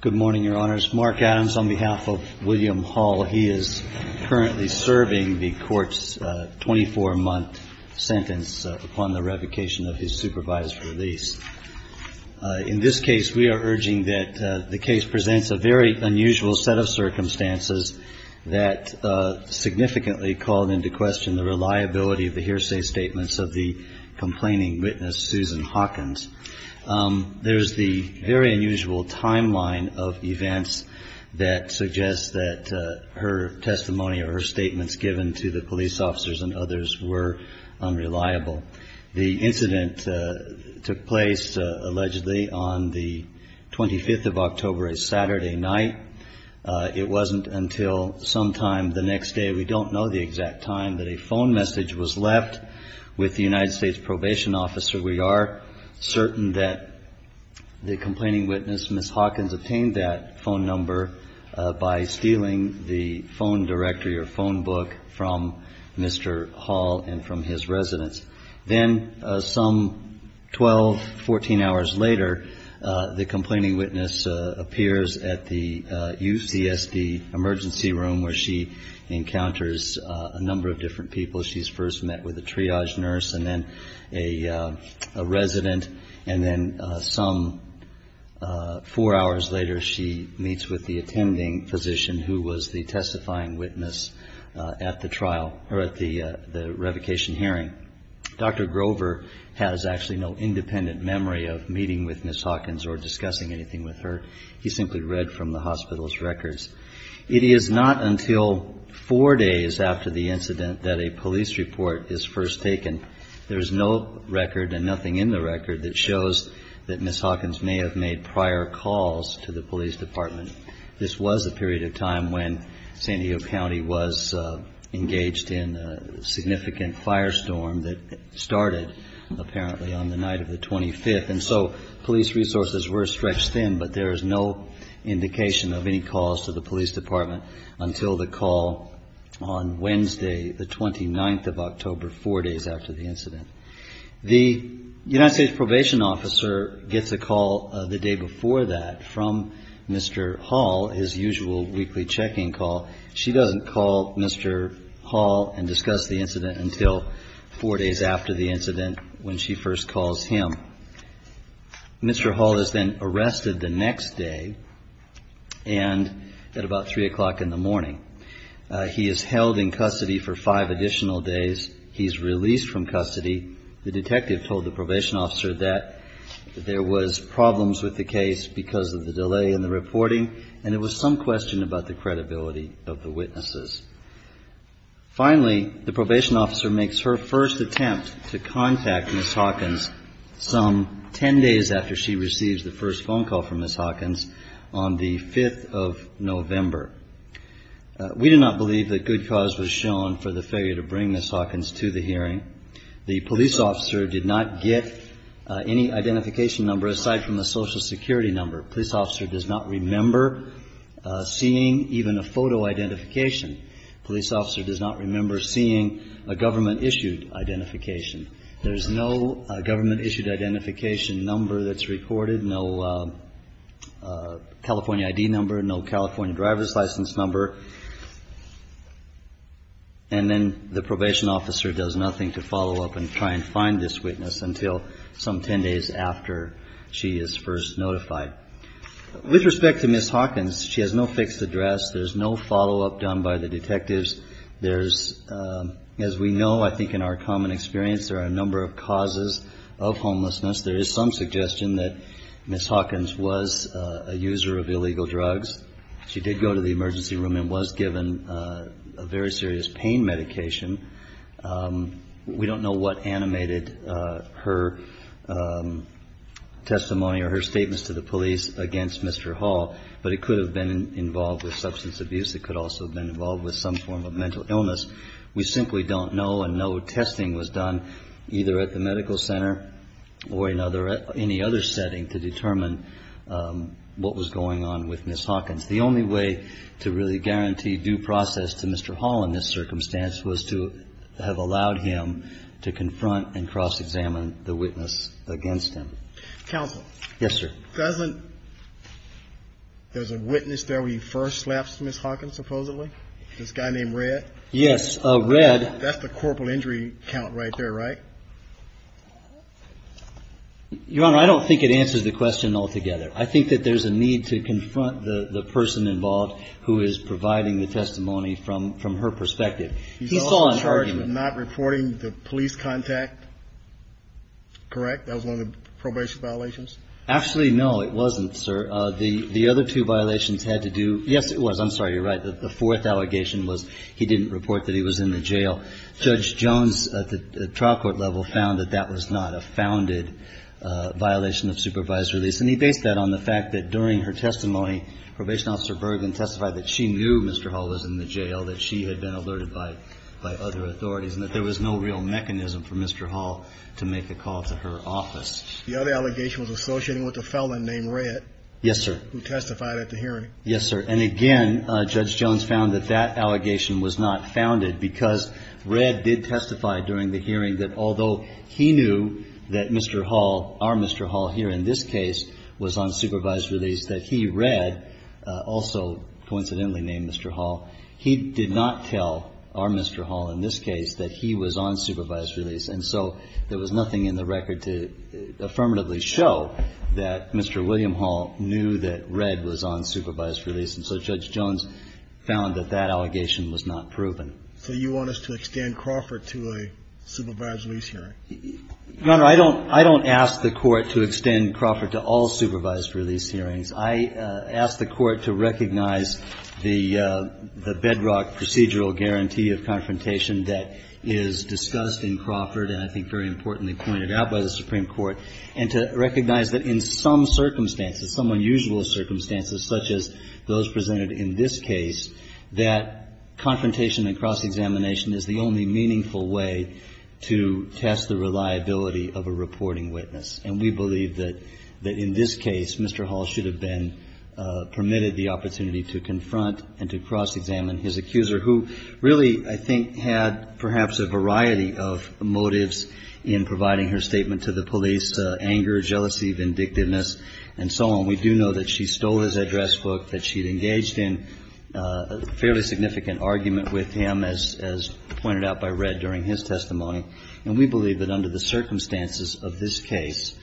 Good morning, Your Honors. Mark Adams on behalf of William Hall. He is currently serving the Court's 24-month sentence upon the revocation of his supervised release. In this case, we are urging that the case presents a very unusual set of circumstances that significantly called into question the reliability of the hearsay statements of the complaining witness, Susan Hawkins. There is the very unusual timeline of events that suggests that her testimony or her statements given to the police officers and others were unreliable. The incident took place, allegedly, on the 25th of October, a Saturday night. It wasn't until sometime the next day, we don't know the exact time, that a phone message was left. With the United States Probation Officer, we are certain that the complaining witness, Ms. Hawkins, obtained that phone number by stealing the phone directory or phone book from Mr. Hall and from his residence. Then, some 12, 14 hours later, the complaining witness appears at the UCSD emergency room where she encounters a number of different people. She's first met with a triage nurse and then a resident, and then some four hours later, she meets with the attending physician who was the testifying witness at the trial, or at the revocation hearing. Dr. Grover has actually no independent memory of meeting with Ms. Hawkins or discussing anything with her. He simply read from the hospital's records. It is not until four days after the incident that a police report is first taken. There is no record and nothing in the record that shows that Ms. Hawkins may have made prior calls to the police department. This was a period of time when San Diego County was engaged in a significant firestorm that started, apparently, on the night of the 25th. And so, police resources were stretched thin, but there is no indication of any calls to the police department until the call on Wednesday, the 29th of October, four days after the incident. The United States Probation Officer gets a call the day before that from Mr. Hall, his usual weekly checking call. She doesn't call Mr. Hall and discuss the incident until four days after the incident when she first calls him. Mr. Hall is then arrested the next day and at about three o'clock in the morning. He is held in custody for five additional days. He's released from custody. The detective told the probation officer that there was problems with the case because of the delay in the reporting, and there was some question about the credibility of the witnesses. Finally, the probation officer makes her first attempt to contact Ms. Hawkins some ten days after she receives the first phone call from Ms. Hawkins on the 5th of November. We do not believe that good cause was shown for the failure to bring Ms. Hawkins to the hearing. The police officer did not get any identification number aside from the Social Security number. Police officer does not remember seeing even a photo identification. Police officer does not remember seeing a government-issued identification. There is no government-issued identification number that's recorded, no California ID number, no California driver's license number. And then the probation officer does nothing to follow up and try and find this witness until some ten days after she is first notified. With respect to Ms. Hawkins, she has no fixed address. There's no follow-up done by the detectives. There's, as we know, I think in our common experience, there are a number of causes of homelessness. There is some suggestion that Ms. Hawkins was a user of illegal drugs. She did go to the emergency room and was given a very serious pain medication. We don't know what animated her testimony or her statements to the police against Mr. Hall, but it could have been involved with substance abuse. It could also have been involved with some form of mental illness. We simply don't know, and no testing was done either at the medical center or in any other setting to determine what was going on with Ms. Hawkins. The only way to really guarantee due process to Mr. Hall in this circumstance was to have allowed him to confront and cross-examine the witness against him. Counsel. Yes, sir. Doesn't there's a witness there where you first slapped Ms. Hawkins supposedly? This guy named Red? Yes, Red. That's the corporal injury count right there, right? Your Honor, I don't think it answers the question altogether. I think that there's a need to confront the person involved who is providing the testimony from her perspective. He saw an argument. He's also charged with not reporting the police contact, correct? That was one of the probation violations? Actually, no, it wasn't, sir. The other two violations had to do yes, it was. I'm sorry, you're right. The fourth allegation was he didn't report that he was in the jail. Judge Jones at the trial court level found that that was not a founded violation of supervised release, and he based that on the fact that during her testimony, probation officer Bergen testified that she knew Mr. Hall was in the jail, that she had been alerted by other authorities, and that there was no real mechanism for Mr. Hall to make a call to her office. The other allegation was associated with a felon named Red? Yes, sir. Who testified at the hearing? Yes, sir. And, again, Judge Jones found that that allegation was not founded because Red did testify during the hearing that although he knew that Mr. Hall, our Mr. Hall here in this case, was on supervised release, that he, Red, also coincidentally named Mr. Hall, he did not tell our Mr. Hall in this case that he was on supervised release, and so there was nothing in the record to affirmatively show that Mr. William Hall knew that Red was on supervised release, and so Judge Jones found that that allegation was not proven. So you want us to extend Crawford to a supervised release hearing? Your Honor, I don't ask the Court to extend Crawford to all supervised release hearings. I ask the Court to recognize the bedrock procedural guarantee of confrontation that is discussed in Crawford and I think very importantly pointed out by the Supreme Court, and to recognize that in some circumstances, some unusual circumstances such as those presented in this case, that confrontation and cross-examination is the only meaningful way to test the reliability of a reporting witness. And we believe that in this case Mr. Hall should have been permitted the opportunity to confront and to cross-examine his accuser who really I think had perhaps a variety of motives in providing her statement to the police, anger, jealousy, vindictiveness and so on. We do know that she stole his address book, that she had engaged in a fairly significant argument with him, as pointed out by Red during his testimony. And we believe that under the circumstances of this case,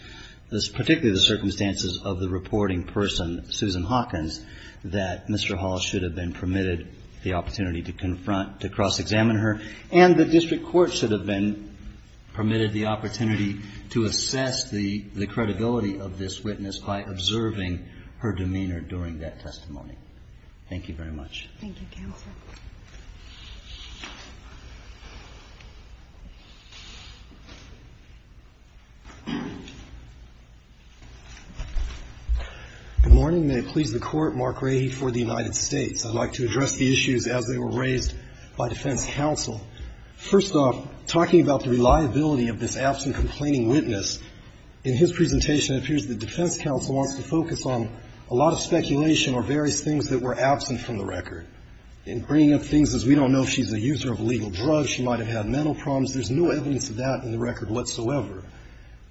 particularly the circumstances of the reporting person, Susan Hawkins, that Mr. Hall should have been permitted the opportunity to confront, to cross-examine her, and the district court should have been permitted the opportunity to assess the credibility of this witness by observing her demeanor during that testimony. Thank you very much. Thank you, counsel. Good morning. May it please the Court. Mark Rahe for the United States. I'd like to address the issues as they were raised by defense counsel. First off, talking about the reliability of this absent complaining witness, in his presentation it appears that defense counsel wants to focus on a lot of speculation or various things that were absent from the record. In bringing up things as we don't know if she's a user of illegal drugs, she might have had mental problems, there's no evidence of that in the record whatsoever.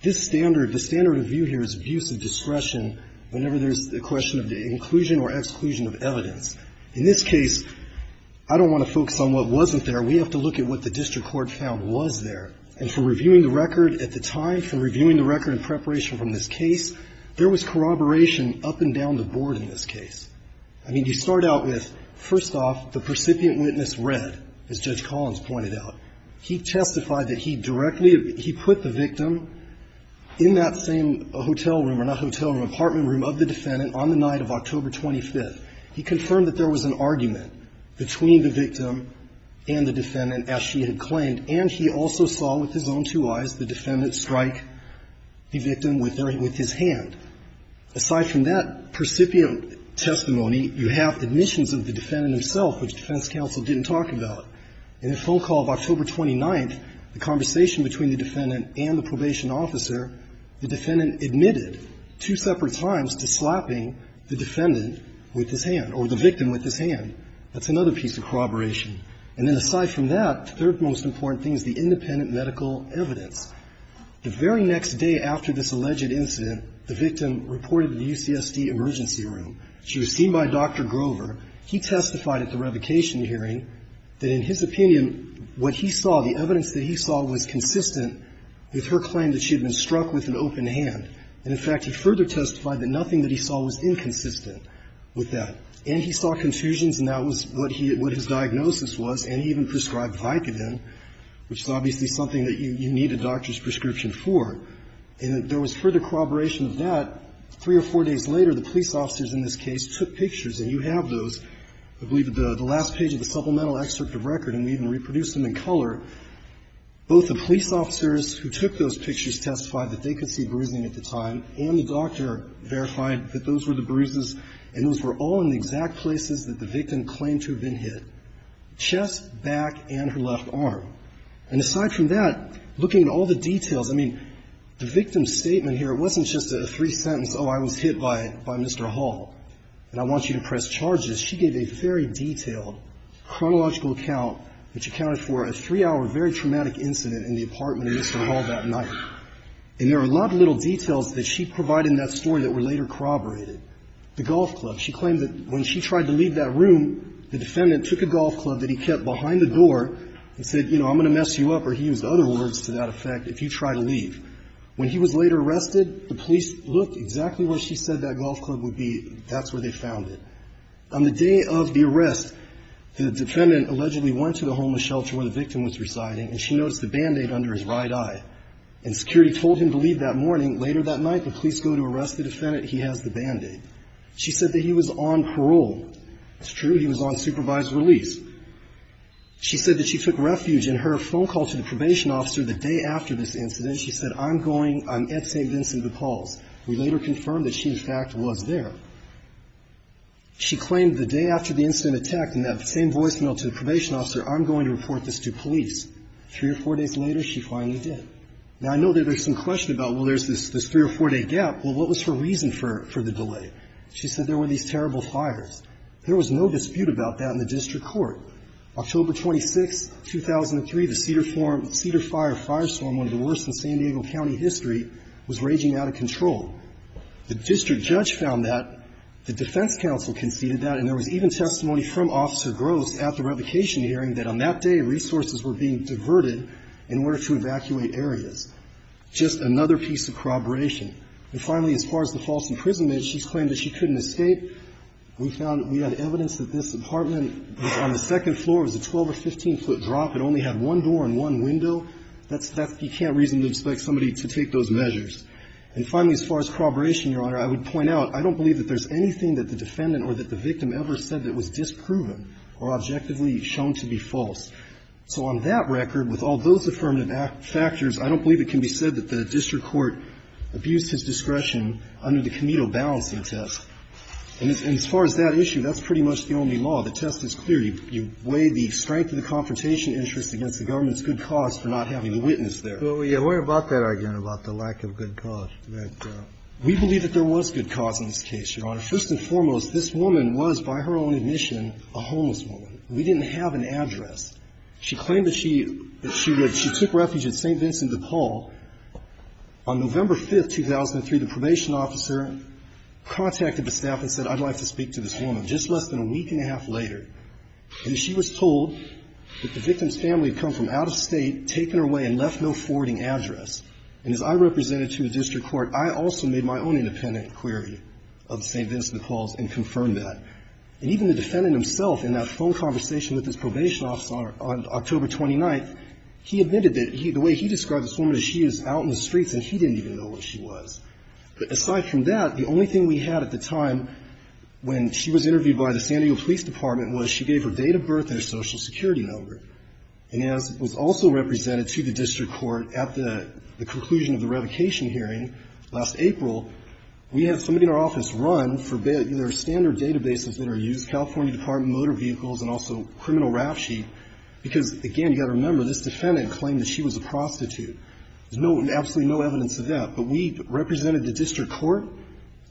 This standard, the standard of view here is abuse of discretion whenever there's a question of the inclusion or exclusion of evidence. In this case, I don't want to focus on what wasn't there. We have to look at what the district court found was there. And for reviewing the record at the time, for reviewing the record in preparation from this case, there was corroboration up and down the board in this case. I mean, you start out with, first off, the percipient witness read, as Judge Collins pointed out. He testified that he directly, he put the victim in that same hotel room or not hotel room, apartment room of the defendant on the night of October 25th. He confirmed that there was an argument between the victim and the defendant as she had claimed. And he also saw with his own two eyes the defendant strike the victim with her, with his hand. Aside from that, percipient testimony, you have admissions of the defendant himself, which defense counsel didn't talk about. In a phone call of October 29th, the conversation between the defendant and the probation officer, the defendant admitted two separate times to slapping the defendant with his hand or the victim with his hand. That's another piece of corroboration. And then aside from that, the third most important thing is the independent medical evidence. The very next day after this alleged incident, the victim reported to the UCSD emergency room. She was seen by Dr. Grover. He testified at the revocation hearing that in his opinion, what he saw, the evidence that he saw was consistent with her claim that she had been struck with an open hand. And, in fact, he further testified that nothing that he saw was inconsistent with that. And he saw confusions, and that was what his diagnosis was. And he even prescribed Vicodin, which is obviously something that you need a doctor's prescription for. And there was further corroboration of that. Three or four days later, the police officers in this case took pictures. And you have those, I believe, at the last page of the supplemental excerpt of record. And we even reproduced them in color. Both the police officers who took those pictures testified that they could see bruising at the time. And the doctor verified that those were the bruises, and those were all in the exact places that the victim claimed to have been hit, chest, back, and her left arm. And aside from that, looking at all the details, I mean, the victim's statement here, it wasn't just a three-sentence, oh, I was hit by Mr. Hall, and I want you to press charges. She gave a very detailed chronological account which accounted for a three-hour very traumatic incident in the apartment of Mr. Hall that night. And there are a lot of little details that she provided in that story that were later corroborated. The golf club. She claimed that when she tried to leave that room, the defendant took a golf club that he kept behind the door and said, you know, I'm going to mess you up, or he used other words to that effect, if you try to leave. When he was later arrested, the police looked exactly where she said that golf club would be. That's where they found it. On the day of the arrest, the defendant allegedly went to the homeless shelter where the victim was residing, and she noticed the Band-Aid under his right eye. And security told him to leave that morning. Later that night, the police go to arrest the defendant. He has the Band-Aid. She said that he was on parole. It's true. He was on supervised release. She said that she took refuge, and her phone call to the probation officer the day after this incident, she said, I'm going, I'm at St. Vincent de Paul's. We later confirmed that she, in fact, was there. She claimed the day after the incident attacked, and that same voicemail to the probation officer, I'm going to report this to police. Three or four days later, she finally did. Now, I know that there's some question about, well, there's this three- or four-day gap. Well, what was her reason for the delay? She said there were these terrible fires. There was no dispute about that in the district court. October 26, 2003, the Cedar Fire firestorm, one of the worst in San Diego County history, was raging out of control. The district judge found that. The defense counsel conceded that. And there was even testimony from Officer Gross at the revocation hearing that on that day, resources were being diverted in order to evacuate areas. Just another piece of corroboration. And finally, as far as the false imprisonment, she's claimed that she couldn't escape. We found that we had evidence that this apartment on the second floor was a 12- or 15-foot drop. It only had one door and one window. That's that's you can't reasonably expect somebody to take those measures. And finally, as far as corroboration, Your Honor, I would point out, I don't believe that there's anything that the defendant or that the victim ever said that was disproven or objectively shown to be false. So on that record, with all those affirmative factors, I don't believe it can be said that the district court abused his discretion under the Comedo balancing test. And as far as that issue, that's pretty much the only law. The test is clear. You weigh the strength of the confrontation interest against the government's good cause for not having a witness there. We worry about that argument, about the lack of good cause. We believe that there was good cause in this case, Your Honor. First and foremost, this woman was, by her own admission, a homeless woman. We didn't have an address. She claimed that she took refuge at St. Vincent de Paul. On November 5th, 2003, the probation officer contacted the staff and said, I'd like to speak to this woman. Just less than a week and a half later, and she was told that the victim's family had come from out of State, taken her away, and left no forwarding address. And as I represented to the district court, I also made my own independent query of St. Vincent de Paul's and confirmed that. And even the defendant himself, in that phone conversation with his probation officer on October 29th, he admitted that the way he described this woman is she is out in the streets and he didn't even know where she was. But aside from that, the only thing we had at the time when she was interviewed by the San Diego Police Department was she gave her date of birth and her social security number. And as was also represented to the district court at the conclusion of the revocation hearing last April, we had somebody in our office run for their standard databases that are used, California Department of Motor Vehicles and also criminal rap sheet, because, again, you've got to remember, this defendant claimed that she was a prostitute. There's no, absolutely no evidence of that. But we represented the district court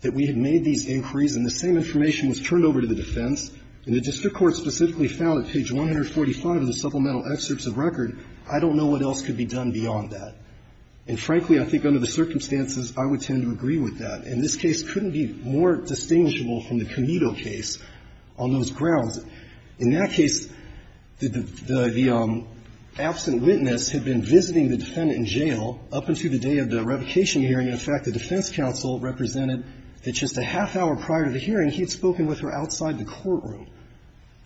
that we had made these inquiries, and the same information was turned over to the defense. And the district court specifically found at page 145 of the supplemental excerpts of record, I don't know what else could be done beyond that. And frankly, I think under the circumstances, I would tend to agree with that. And this case couldn't be more distinguishable from the Comedo case on those grounds. In that case, the absent witness had been visiting the defendant in jail up until the day of the revocation hearing. In fact, the defense counsel represented that just a half hour prior to the hearing, and he had spoken with her outside the courtroom.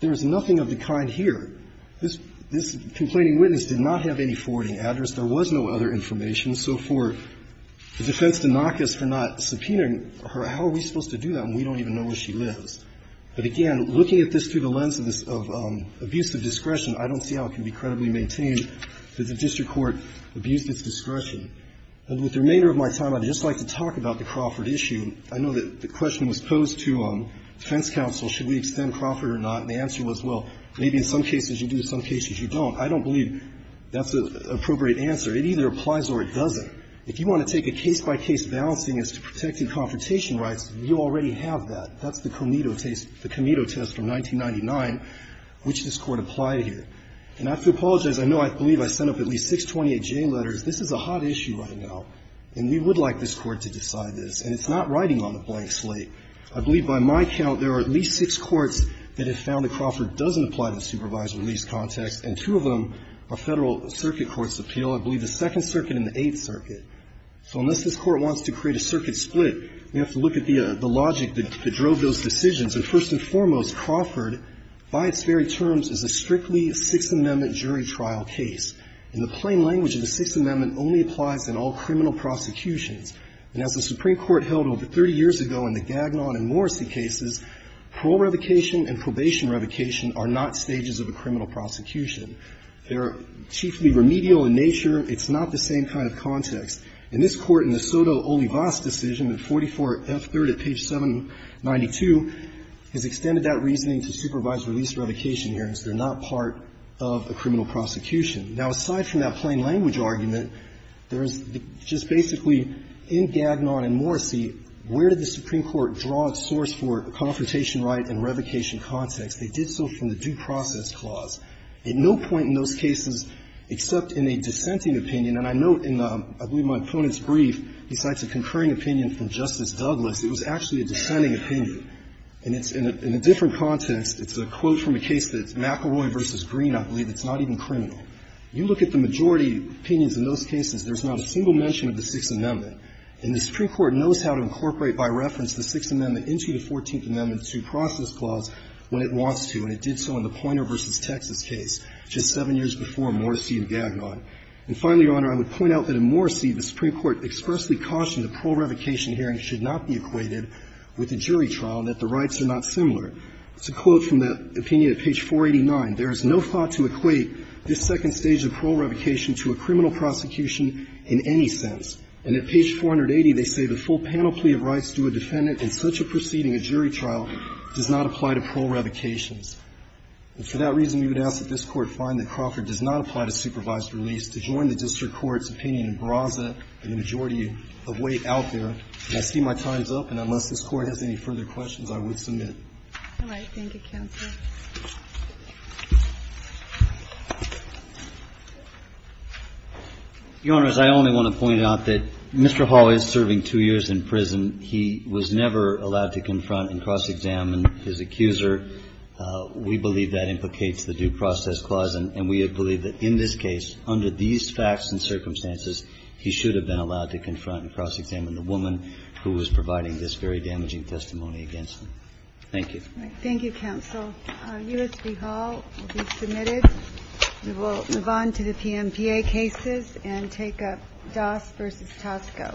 There is nothing of the kind here. This complaining witness did not have any forwarding address. There was no other information. So for the defense to knock us for not subpoenaing her, how are we supposed to do that when we don't even know where she lives? But, again, looking at this through the lens of abuse of discretion, I don't see how it can be credibly maintained that the district court abused its discretion. And with the remainder of my time, I'd just like to talk about the Crawford issue. And I know that the question was posed to defense counsel, should we extend Crawford or not, and the answer was, well, maybe in some cases you do, in some cases you don't. I don't believe that's an appropriate answer. It either applies or it doesn't. If you want to take a case-by-case balancing as to protecting confrontation rights, you already have that. That's the Comedo case, the Comedo test from 1999, which this Court applied here. And I have to apologize. I know I believe I sent up at least 628J letters. This is a hot issue right now, and we would like this Court to decide this. And it's not writing on a blank slate. I believe, by my count, there are at least six courts that have found that Crawford doesn't apply to supervised release context, and two of them are Federal circuit courts' appeal, I believe the Second Circuit and the Eighth Circuit. So unless this Court wants to create a circuit split, we have to look at the logic that drove those decisions. And first and foremost, Crawford, by its very terms, is a strictly Sixth Amendment jury trial case. In the plain language of the Sixth Amendment, only applies in all criminal prosecutions. And as the Supreme Court held over 30 years ago in the Gagnon and Morrissey cases, parole revocation and probation revocation are not stages of a criminal prosecution. They're chiefly remedial in nature. It's not the same kind of context. In this Court, in the Soto Olivas decision, at 44F3rd at page 792, has extended that reasoning to supervised release revocation hearings. They're not part of a criminal prosecution. Now, aside from that plain language argument, there's just basically, in Gagnon and Morrissey, where did the Supreme Court draw its source for a confrontation right and revocation context? They did so from the due process clause. At no point in those cases, except in a dissenting opinion, and I note in, I believe, my opponent's brief, besides a concurring opinion from Justice Douglas, it was actually a dissenting opinion. And it's in a different context. It's a quote from a case that's McElroy v. Green, I believe, that's not even criminal. You look at the majority opinions in those cases, there's not a single mention of the Sixth Amendment. And the Supreme Court knows how to incorporate, by reference, the Sixth Amendment into the Fourteenth Amendment due process clause when it wants to, and it did so in the Poynter v. Texas case, just seven years before Morrissey and Gagnon. And finally, Your Honor, I would point out that in Morrissey, the Supreme Court expressly cautioned a parole revocation hearing should not be equated with a jury trial, and that the rights are not similar. It's a quote from that opinion at page 489. There is no thought to equate this second stage of parole revocation to a criminal prosecution in any sense. And at page 480, they say the full panel plea of rights to a defendant in such a proceeding of jury trial does not apply to parole revocations. And for that reason, we would ask that this Court find that Crocker does not apply to supervised release to join the district court's opinion in Braza and the majority of weight out there. And I see my time's up, and unless this Court has any further questions, I would submit. All right. Thank you, counsel. Your Honors, I only want to point out that Mr. Hall is serving two years in prison. He was never allowed to confront and cross-examine his accuser. We believe that implicates the due process clause, and we believe that in this case, under these facts and circumstances, he should have been allowed to confront and cross-examine the woman who was providing this very damaging testimony against him. Thank you. Thank you, counsel. U.S. v. Hall will be submitted. We will move on to the PMPA cases and take up Doss v. Tosco. Thank you, counsel. Thank you.